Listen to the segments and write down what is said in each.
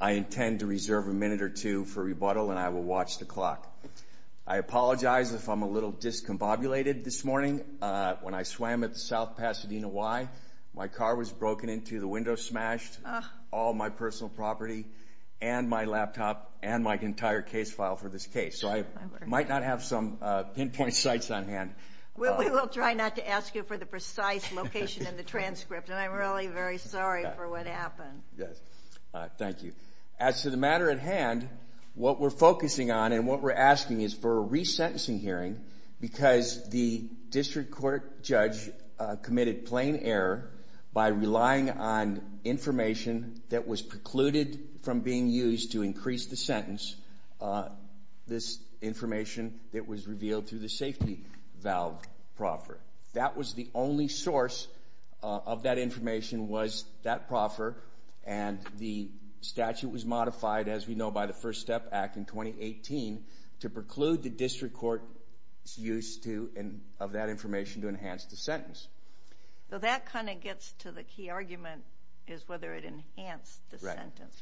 I intend to reserve a minute or two for rebuttal and I will watch the clock. I apologize if I'm a little discombobulated this morning when I swam at the South Pasadena Y. My car was broken into, the window smashed, all my personal property and my laptop and my entire case file for this case. So I might not have some pinpoint sites on hand. We will try not to ask you for the precise location of the transcript and I'm really very sorry for what happened. Thank you. As to the matter at hand, what we're focusing on and what we're asking is for a re-sentencing hearing because the district court judge committed plain error by relying on information that was precluded from being used to increase the sentence, this information that was revealed through the safety valve proffer. That was the only source of that information was that proffer and the statute was modified, as we know, by the First Step Act in 2018 to preclude the district court's use of that information to enhance the sentence. So that kind of gets to the key argument is whether it enhanced the sentence.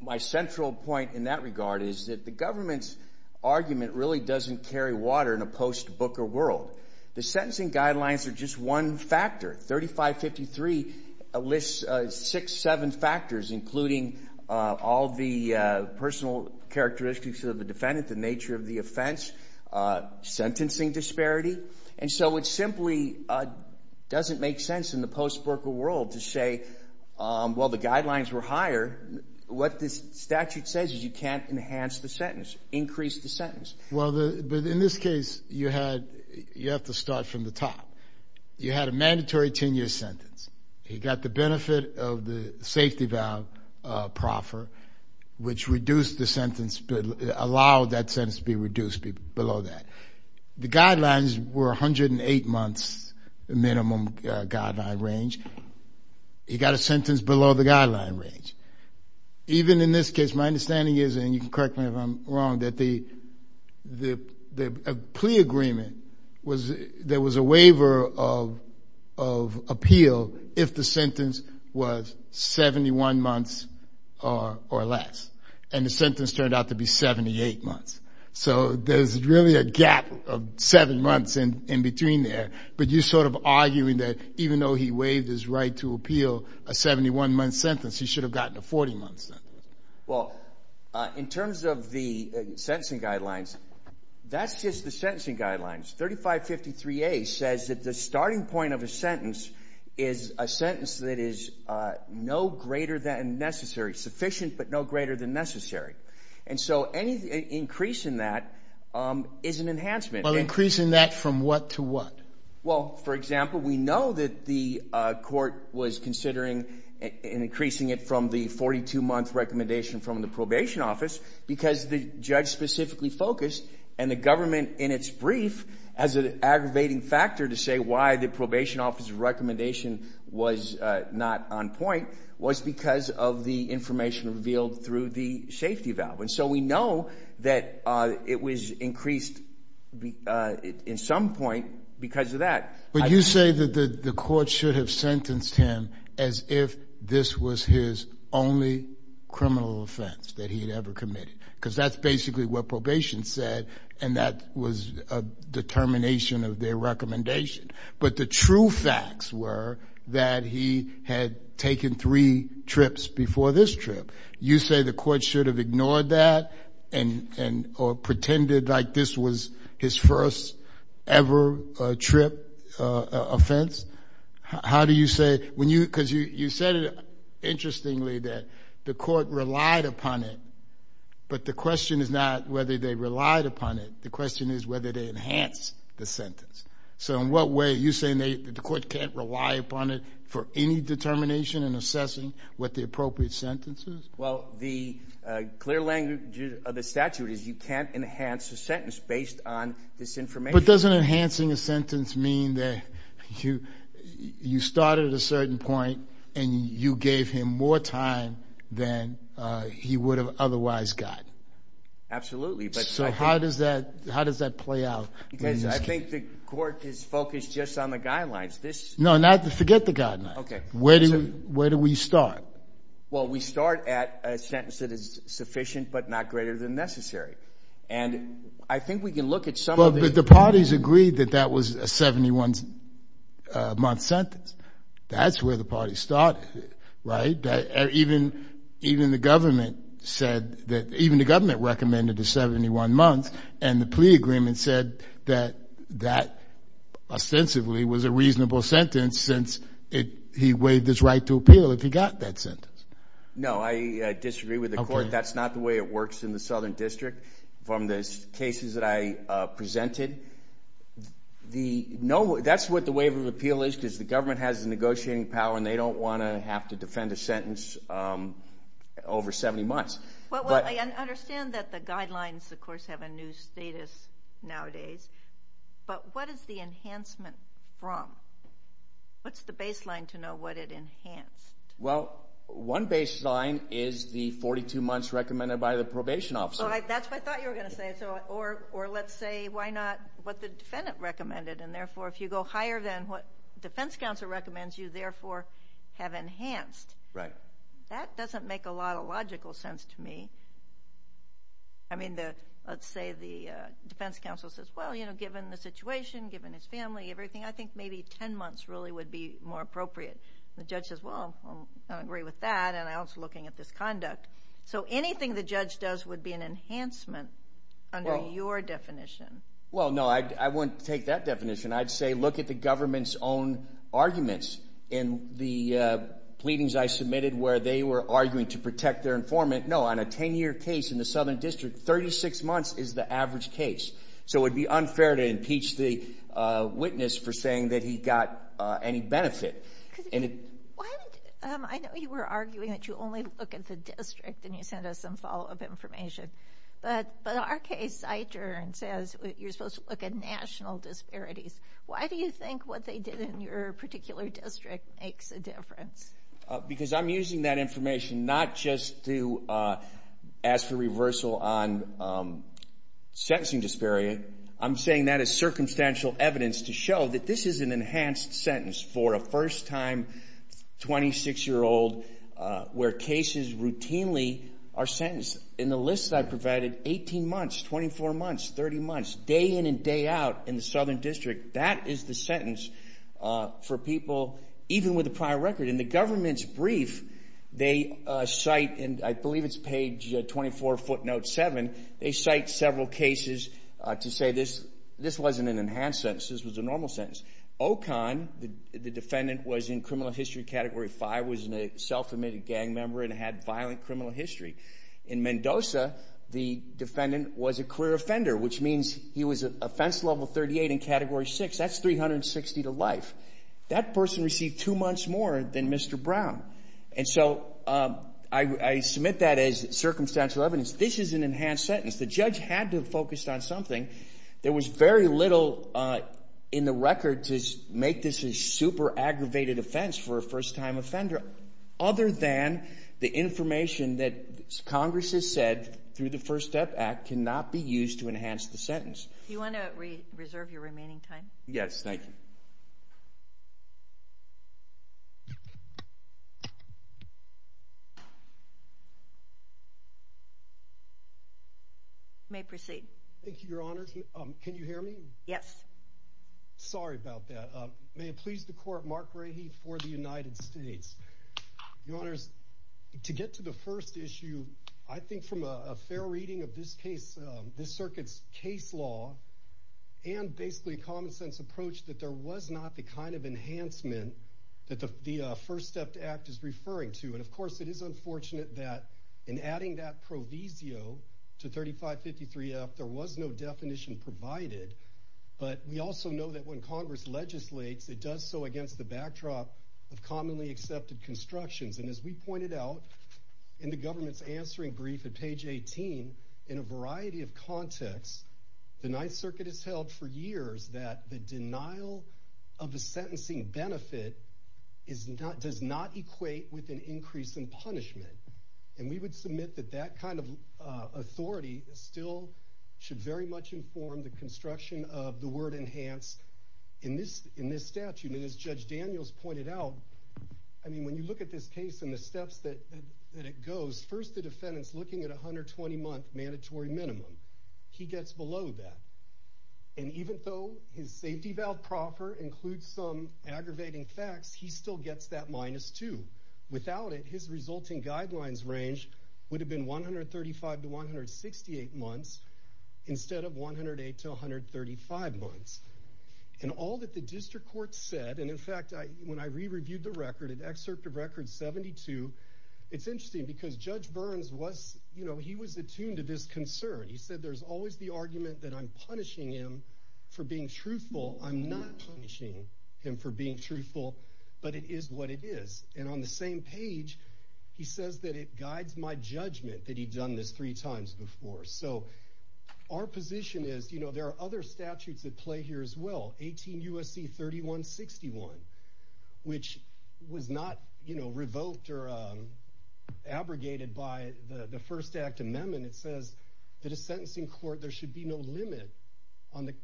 My central point in that regard is that the government's argument really doesn't carry water in a post-Booker world. The sentencing guidelines are just one factor. 3553 lists six, seven factors including all the personal characteristics of the defendant, the nature of the offense, sentencing disparity, and so it simply doesn't make sense in the post-Booker world to say, well, the guidelines were higher. What this statute says is you can't enhance the sentence, increase the sentence. Well, in this case, you have to start from the top. You had a mandatory 10-year sentence. You got the benefit of the safety valve proffer, which reduced the sentence, allowed that sentence be reduced below that. The guidelines were 108 months minimum guideline range. You got a sentence below the guideline range. Even in this case, my understanding is, and you can correct me if I'm wrong, that the plea agreement was, there was a waiver of appeal if the sentence was 71 months or less, and the sentence turned out to be 78 months. So there's really a gap of seven months in between there, but you're sort of arguing that even though he waived his right to appeal a 71-month sentence, he should've gotten a 40-month sentence. Well, in terms of the sentencing guidelines, that's just the sentencing guidelines. 3553A says that the starting point of a sentence is a sentence that is no greater than necessary, sufficient but no greater than necessary. And so any increase in that is an enhancement. Well, increasing that from what to what? Well, for example, we know that the court was considering increasing it from the 42-month recommendation from the probation office because the judge specifically focused, and the government in its brief, as an aggravating factor to say why the probation office recommendation was not on point, was because of the information revealed through the safety valve. And so we know that it was increased in some point because of that. But you say that the court should have sentenced him as if this was his only criminal offense that he had ever committed because that's basically what probation said, and that was a determination of their recommendation. But the true facts were that he had taken three trips before this trip. You say the court should have ignored that or pretended like this was his first ever trip offense? How do you say? Because you said it interestingly that the court relied upon it, but the question is not whether they relied upon it. The question is whether they enhanced the sentence. So in what way, you're saying the court can't rely upon it for any determination in assessing what the appropriate sentence is? Well, the clear language of the statute is you can't enhance a sentence based on this information. But doesn't enhancing a sentence mean that you started at a certain point and you gave him more time than he would have otherwise got? Absolutely. So how does that play out? I think the court is focused just on the guidelines. No, forget the guidelines. Where do we start? Well we start at a sentence that is sufficient but not greater than necessary. And I think we can look at some of the... Even the government recommended a 71 month and the plea agreement said that that ostensibly was a reasonable sentence since he waived his right to appeal if he got that sentence. No, I disagree with the court. That's not the way it works in the Southern District. From the cases that I presented, that's what the waiver of appeal is because the government has the negotiating power and they don't want to have to defend a sentence over 70 months. I understand that the guidelines of course have a new status nowadays, but what is the enhancement from? What's the baseline to know what it enhanced? Well, one baseline is the 42 months recommended by the probation officer. That's what I thought you were going to say. Or let's say why not what the defendant recommended and therefore if you go higher than what the defense counsel recommends, you therefore have enhanced. That doesn't make a lot of logical sense to me. I mean, let's say the defense counsel says, well, you know, given the situation, given his family, everything, I think maybe 10 months really would be more appropriate. The judge says, well, I agree with that and I was looking at this conduct. So anything the judge does would be an enhancement under your definition. Well, no, I wouldn't take that definition. I'd say look at the government's own arguments in the pleadings I submitted where they were arguing to protect their informant. No, on a 10-year case in the Southern District, 36 months is the average case. So it would be unfair to impeach the witness for saying that he got any benefit. I know you were arguing that you only look at the district and you send us some follow-up information. But our case, Eichern, says you're supposed to look at national disparities. Why do you think what they did in your particular district makes a difference? Because I'm using that information not just to ask for reversal on sentencing disparity. I'm saying that as circumstantial evidence to show that this is an enhanced sentence for a first-time 26-year-old where cases routinely are sentenced. In the list I provided, 18 months, 24 months, 30 months, day in and day out in the Southern District, that is the sentence for people even with a prior record. In the government's brief, they cite, and I believe it's page 24, footnote 7, they cite several cases to say this wasn't an enhanced sentence, this was a normal sentence. Ocon, the defendant, was in criminal history category 5, was a self-admitted gang member and had violent criminal history. In Mendoza, the defendant was a clear offender, which means he was offense level 38 in category 6. That's 360 to life. That person received two months more than Mr. Brown. And so I submit that as circumstantial evidence. This is an enhanced sentence. The judge had to have focused on something. There was very little in the record to make this a super aggravated offense for a first-time offender other than the information that Congress has said through the First Step Act cannot be used to enhance the sentence. Do you want to reserve your remaining time? Yes, thank you. You may proceed. Thank you, Your Honors. Can you hear me? Yes. Sorry about that. May it please the Court, Mark Rahe for the United States. Your Honors, to get to the first issue, I think from a fair reading of this case, this circuit's case law, and basically common sense approach, that there was not the kind of enhancement that the First Step Act is referring to. And of course, it is unfortunate that in adding that provisio to 3553F, there was no definition provided. But we also know that when Congress legislates, it does so against the backdrop of commonly accepted constructions. And as we pointed out in the government's answering brief at page 18, in a variety of contexts, the Ninth Circuit has held for years that the denial of the sentencing benefit does not equate with an increase in punishment. And we would submit that that kind of authority still should very much inform the construction of the word enhance in this statute. And as Judge Daniels pointed out, I mean, when you look at this case and the steps that it goes, first the defendant's looking at a 120-month mandatory minimum. He gets below that. And even though his safety valve proper includes some aggravating facts, he still gets that minus two. Without it, his resulting guidelines range would have been 135 to 168 months, instead of 108 to 135 months. And all that the district court said, and in fact, when I re-reviewed the record, an excerpt of Record 72, it's interesting because Judge Burns was, you know, he was attuned to this concern. He said, there's always the argument that I'm punishing him for being truthful. I'm not punishing him for being truthful, but it is what it is. And on the same page, he says that it guides my judgment that he'd done this three times before. So our position is, you know, there are other statutes at play here as well, 18 U.S.C. 3161, which was not, you know, revoked or abrogated by the First Act Amendment. It says that a sentencing court, there should be no limit on the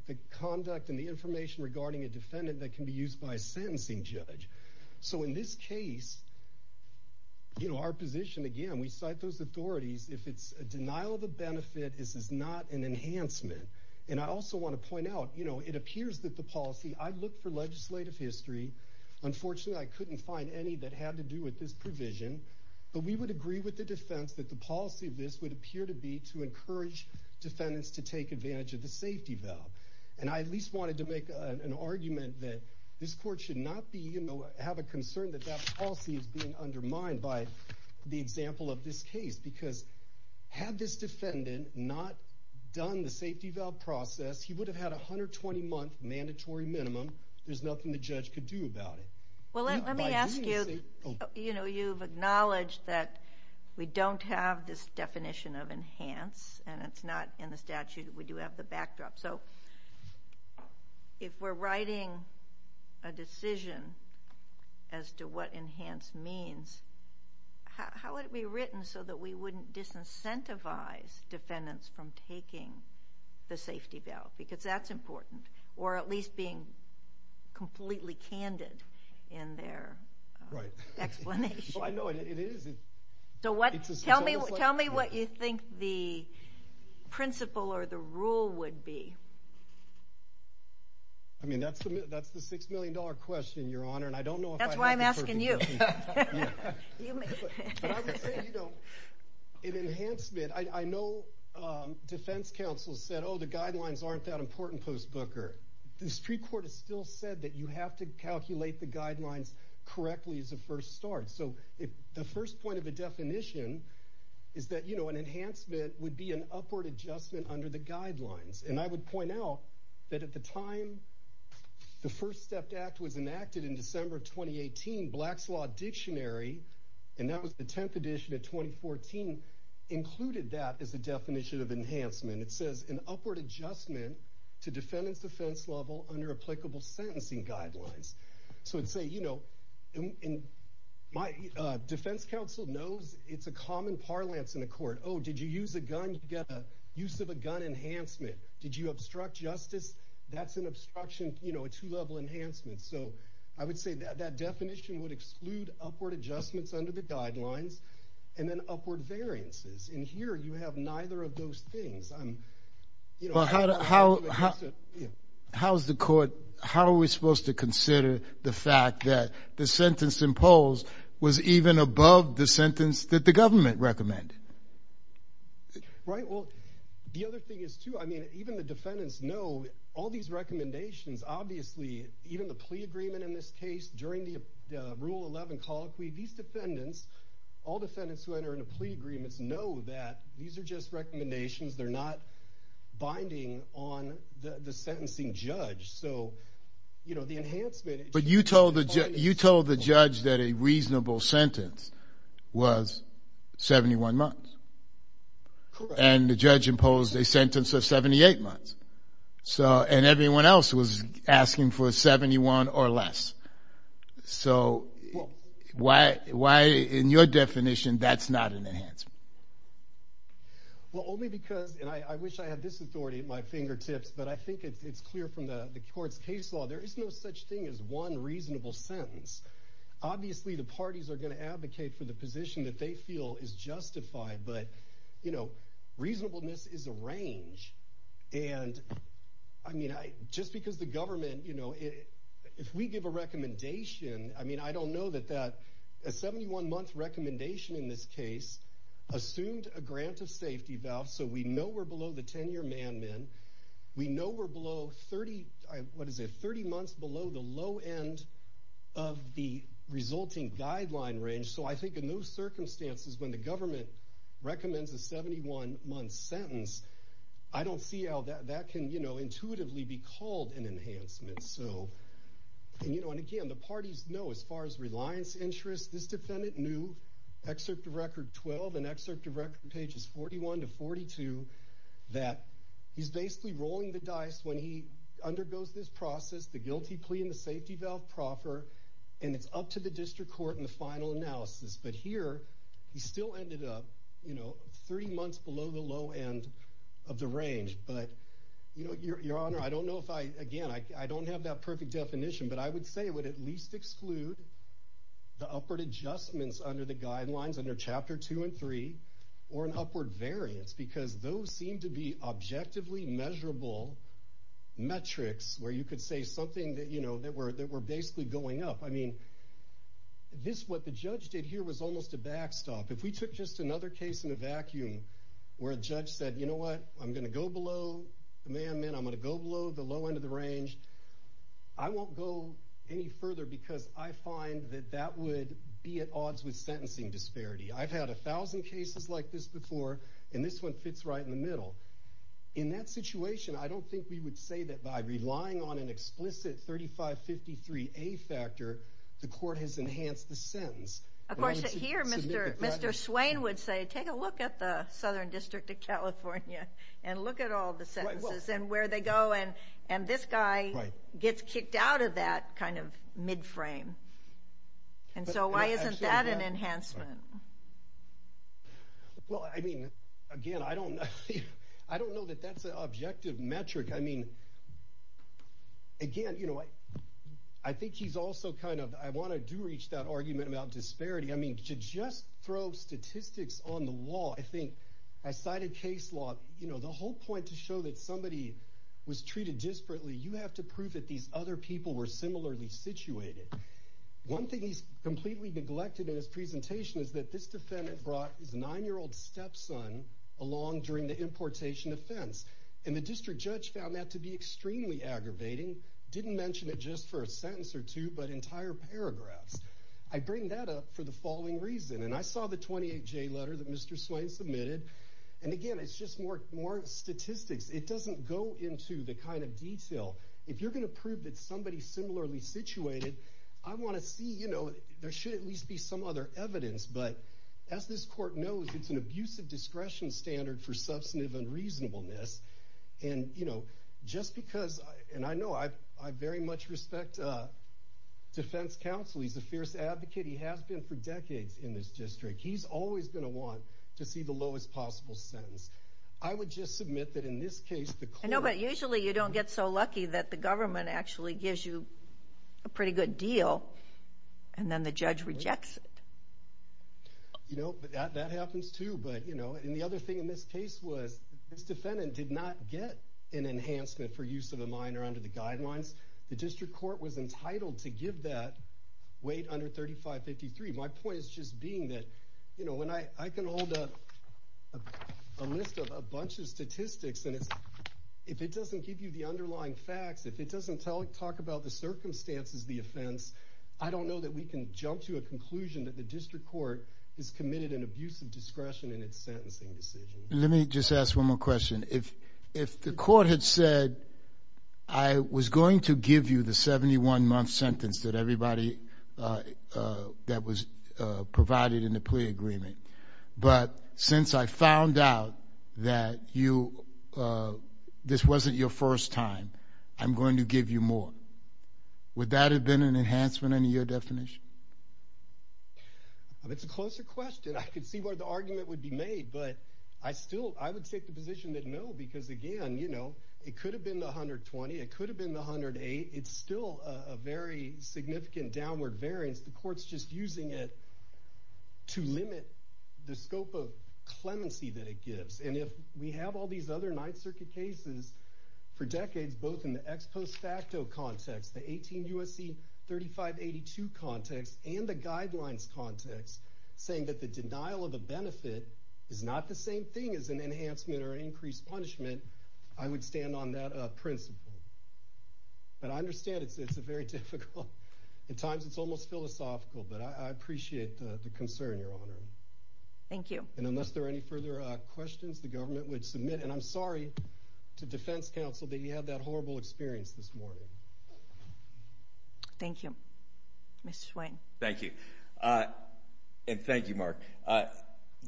conduct and the information regarding a defendant that can be used by a sentencing judge. So in this case, you know, our position, again, we cite those authorities. If it's a denial of a benefit, this is not an enhancement. And I also want to point out, you know, it appears that the policy, I've looked for legislative history. Unfortunately, I couldn't find any that had to do with this provision, but we would agree with the defense that the policy of this would appear to be to encourage defendants to take advantage of the safety belt. And I at least wanted to make an argument that this court should not be, you know, have a concern that that would be undermined by the example of this case, because had this defendant not done the safety belt process, he would have had a 120-month mandatory minimum. There's nothing the judge could do about it. Well, let me ask you, you know, you've acknowledged that we don't have this definition of enhance, and it's not in the statute. We do have the backdrop. So if we're writing a decision as to what enhance means, how would it be written so that we wouldn't disincentivize defendants from taking the safety belt? Because that's important. Or at least being completely candid in their explanation. Right. Well, I know it is. Tell me what you think the principle or the rule would be. I mean, that's the $6 million question, Your Honor, and I don't know if I have the answer. I'm asking you. But I would say, you know, an enhancement, I know defense counsel said, oh, the guidelines aren't that important, Post Booker. The Supreme Court has still said that you have to calculate the guidelines correctly as a first start. So the first point of the definition is that, you know, an enhancement would be an upward adjustment under the guidelines. And I would Black's Law Dictionary, and that was the 10th edition of 2014, included that as the definition of enhancement. It says an upward adjustment to defendant's defense level under applicable sentencing guidelines. So I'd say, you know, my defense counsel knows it's a common parlance in the court. Oh, did you use a gun? You get a use of a gun enhancement. Did you obstruct justice? That's an obstruction, you know, a two-level enhancement. So I would say that definition would exclude upward adjustments under the guidelines and then upward variances. And here, you have neither of those things. I'm, you know... Well, how is the court, how are we supposed to consider the fact that the sentence imposed was even above the sentence that the government recommended? Right, well, the other thing is, too, I mean, even the defendants know all these recommendations, obviously, even the plea agreement in this case, during the Rule 11 Colloquy, these defendants, all defendants who enter into plea agreements know that these are just recommendations, they're not binding on the sentencing judge. So, you know, the enhancement... But you told the judge that a reasonable sentence was 71 months. Correct. And the judge imposed a sentence of 78 months. So, and everyone else was asking for 71 or less. So, why, in your definition, that's not an enhancement? Well, only because, and I wish I had this authority at my fingertips, but I think it's clear from the court's case law, there is no such thing as one reasonable sentence. Obviously, the parties are going to advocate for the position that they feel is justified, but, you know, reasonableness is a range. And, I mean, just because the government, you know, if we give a recommendation, I mean, I don't know that a 71-month recommendation in this case assumed a grant of safety vows, so we know we're below the 10-year man-min, we know we're below 30, what is it, 30 months below the low end of the resulting guideline range? So I think in those circumstances, when the government recommends a 71-month sentence, I don't see how that can, you know, intuitively be called an enhancement. So, and, you know, and again, the parties know, as far as reliance interests, this defendant knew, Excerpt of Record 12 and Excerpt of Record pages 41 to 42, that he's basically rolling the dice when he undergoes this process, the guilty plea and the safety vow proper, and it's up to the district court in the final analysis. But here, he still ended up, you know, three months below the low end of the range. But, you know, Your Honor, I don't know if I, again, I don't have that perfect definition, but I would say it would at least exclude the upward adjustments under the guidelines, under Chapter 2 and 3, or an upward variance, because those seem to be objectively measurable metrics where you could say something that, you know, that we're basically going up. I mean, this, what the judge did here was almost a backstop. If we took just another case in a vacuum, where a judge said, you know what, I'm going to go below the man-min, I'm going to go below the low end of the range, I won't go any further because I find that that would be at odds with sentencing disparity. I've had a thousand cases like this before, and this one fits right in the middle. In that situation, I don't think we would say that by relying on an explicit 3553A factor, the court has enhanced the sentence. Of course, here, Mr. Swain would say, take a look at the Southern District of California and look at all the sentences and where they go, and this guy gets kicked out of that kind of mid-frame. And so why isn't that an enhancement? Well, I mean, again, I don't know that that's an objective metric. I mean, again, you know, I think he's also kind of, I want to do reach that argument about disparity. I mean, to just throw statistics on the law, I think, I cited case law. You know, the whole point to show that somebody was treated disparately, you have to prove that these other people were similarly situated. One thing he's completely neglected in his presentation is that this defendant brought his 9-year-old stepson along during the importation offense. And the district judge found that to be extremely aggravating, didn't mention it just for a sentence or two, but entire paragraphs. I bring that up for the following reason, and I saw the 28-J letter that Mr. Swain submitted. And again, it's just more statistics. It doesn't go into the kind of detail. If you're going to prove that somebody's similarly situated, I want to see, you know, there should at least be some other evidence. But as this court knows, it's an abusive discretion standard for substantive unreasonableness. And, you know, just because, and I know I very much respect defense counsel. He's a fierce advocate. He has been for decades in this district. He's always going to want to see the lowest possible sentence. I would just submit that in this case, the court— I know, but usually you don't get so lucky that the government actually gives you a pretty good deal, and then the judge rejects it. You know, that happens, too. But, you know, and the other thing in this case was this defendant did not get an enhancement for use of a minor under the guidelines. The district court was entitled to give that weight under 3553. My point is just being that, you know, when I can hold a list of a bunch of statistics, and if it doesn't give you the underlying facts, if it doesn't talk about the circumstances of the offense, I don't know that we can jump to a conclusion that the district court has committed an abusive discretion in its sentencing decision. Let me just ask one more question. If the court had said, I was going to give you the 71-month sentence that everybody, that was provided in the plea agreement, but since I found out that you, this wasn't your first time, I'm going to give you more, would that have been an enhancement under your definition? That's a closer question. I could see where the argument would be made, but I still, I would take the position that no, because again, you know, it could have been the 120, it could have been the 108. It's still a very significant downward variance. The court's just using it to limit the scope of clemency that it gives. And if we have all these other Ninth Circuit cases for decades, both in the ex post facto context, the 18 U.S.C. 3582 context, and the guidelines context, saying that the denial of a benefit is not the same thing as an enhancement or increased punishment, I would stand on that principle. But I understand it's very difficult. At times it's almost philosophical, but I appreciate the concern, Your Honor. Thank you. And unless there are any further questions, the government would submit. And I'm sorry to defense counsel that you had that horrible experience this morning. Thank you. Mr. Swain. Thank you. And thank you, Mark.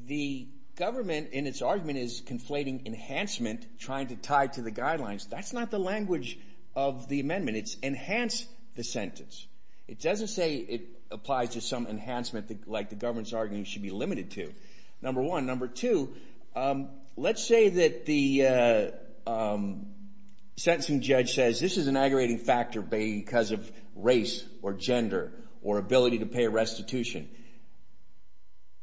The government in its argument is conflating enhancement, trying to tie it to the guidelines. That's not the language of the amendment. It's enhance the sentence. It doesn't say it applies to some enhancement like the government's argument should be limited to, number one. Number two, let's say that the sentencing judge says this is an aggravating factor because of race or gender or ability to pay a restitution.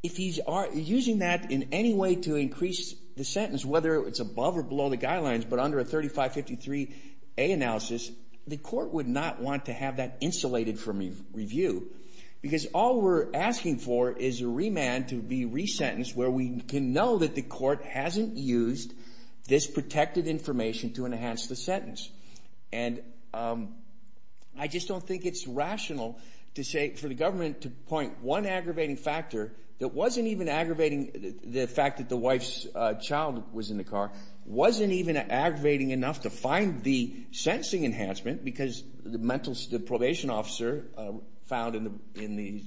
If he's using that in any way to increase the sentence, whether it's above or below the guidelines, but under a 3553A analysis, the court would not want to have that insulated from review because all we're asking for is a remand to be resentenced where we can know that the court hasn't used this protected information to enhance the sentence. And I just don't think it's rational to say for the government to point one aggravating factor that wasn't even aggravating the fact that the wife's child was in the car, wasn't even aggravating enough to find the sentencing enhancement because the probation officer found in the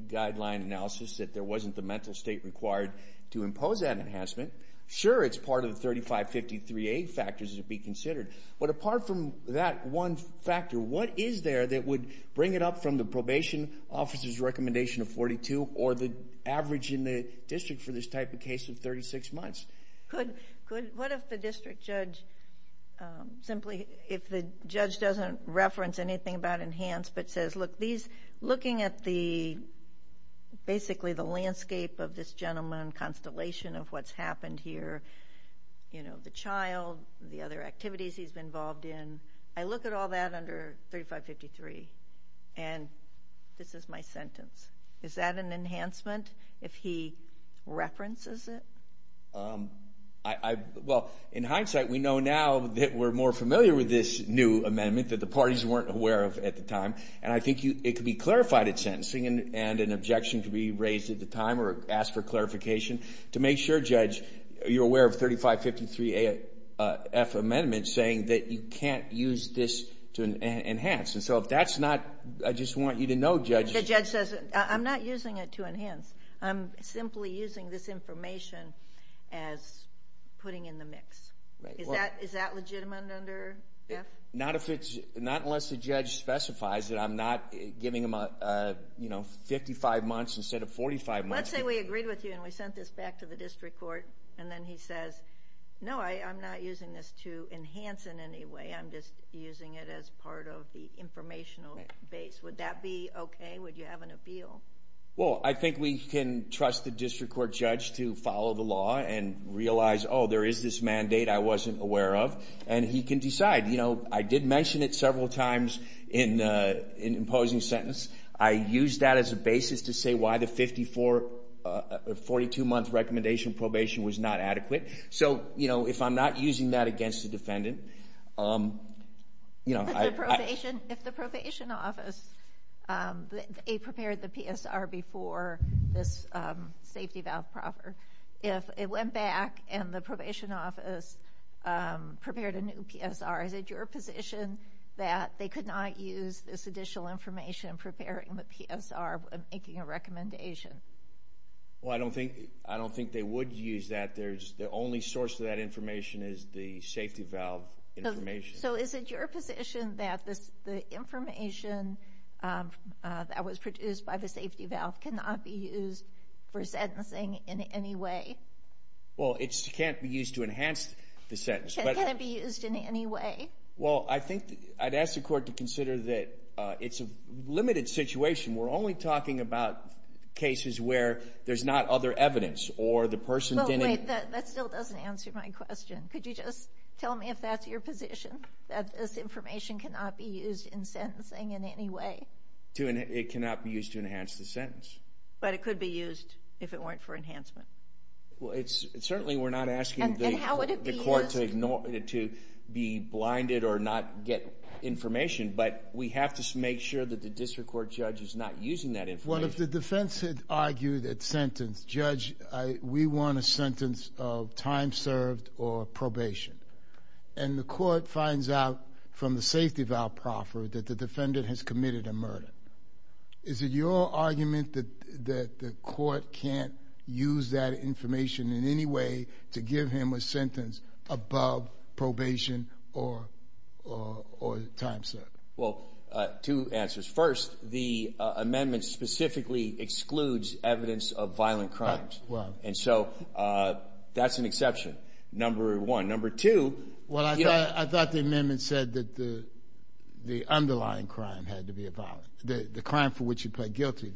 guideline analysis that there wasn't the mental state required to impose that enhancement. Sure, it's part of the 3553A factors to be considered, but apart from that one factor, what is there that would bring it up from the probation officer's recommendation of 42 or the average in the district for this type of case of 36 months? What if the district judge simply, if the judge doesn't reference anything about enhanced, but says, look, looking at basically the landscape of this gentleman, constellation of what's happened here, you know, the child, the other activities he's been involved in, I look at all that under 3553 and this is my sentence. Is that an enhancement if he references it? Well, in hindsight, we know now that we're more familiar with this new amendment that the parties weren't aware of at the time, and I think it could be clarified at sentencing and an objection could be raised at the time or asked for clarification to make sure, Judge, that you're aware of 3553AF amendments saying that you can't use this to enhance. And so if that's not, I just want you to know, Judge. The judge says, I'm not using it to enhance. I'm simply using this information as putting in the mix. Is that legitimate under that? Not unless the judge specifies that I'm not giving him 55 months instead of 45 months. Let's say we agreed with you and we sent this back to the district court, and then he says, no, I'm not using this to enhance in any way. I'm just using it as part of the informational base. Would that be okay? Would you have an appeal? Well, I think we can trust the district court judge to follow the law and realize, oh, there is this mandate I wasn't aware of, and he can decide. You know, I did mention it several times in imposing sentence. I used that as a basis to say why the 42-month recommendation probation was not adequate. So, you know, if I'm not using that against a defendant, you know, I – If the probation office prepared the PSR before this safety valve proper, if it went back and the probation office prepared a new PSR, is it your position that they could not use this additional information in preparing the PSR when making a recommendation? Well, I don't think they would use that. The only source of that information is the safety valve information. So is it your position that the information that was produced by the safety valve cannot be used for sentencing in any way? Well, it can't be used to enhance the sentence. Can it be used in any way? Well, I think I'd ask the court to consider that it's a limited situation. We're only talking about cases where there's not other evidence or the person didn't – Wait, that still doesn't answer my question. Could you just tell me if that's your position, that this information cannot be used in sentencing in any way? It cannot be used to enhance the sentence. But it could be used if it weren't for enhancement. Well, certainly we're not asking the court to be blinded or not get information, but we have to make sure that the district court judge is not using that information. Well, if the defense had argued that sentence, judge, we want a sentence of time served or probation, and the court finds out from the safety valve proffer that the defendant has committed a murder, is it your argument that the court can't use that information in any way to give him a sentence above probation or time served? Well, two answers. First, the amendment specifically excludes evidence of violent crimes. And so that's an exception, number one. Well, I thought the amendment said that the underlying crime had to be violent, the crime for which you plead guilty.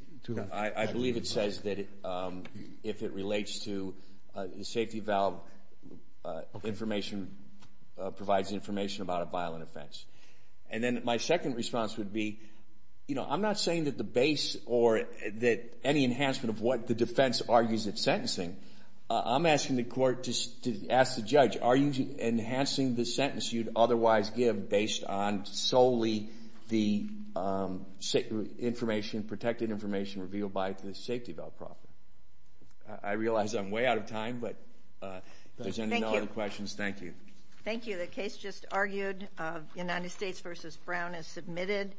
I believe it says that if it relates to the safety valve, information provides information about a violent offense. And then my second response would be, you know, I'm not saying that the base or that any enhancement of what the defense argues in sentencing. I'm asking the court to ask the judge, are you enhancing the sentence you'd otherwise give based on solely the protected information revealed by the safety valve proffer? I realize I'm way out of time, but if there's any other questions, thank you. Thank you. The case just argued, United States v. Brown, is submitted.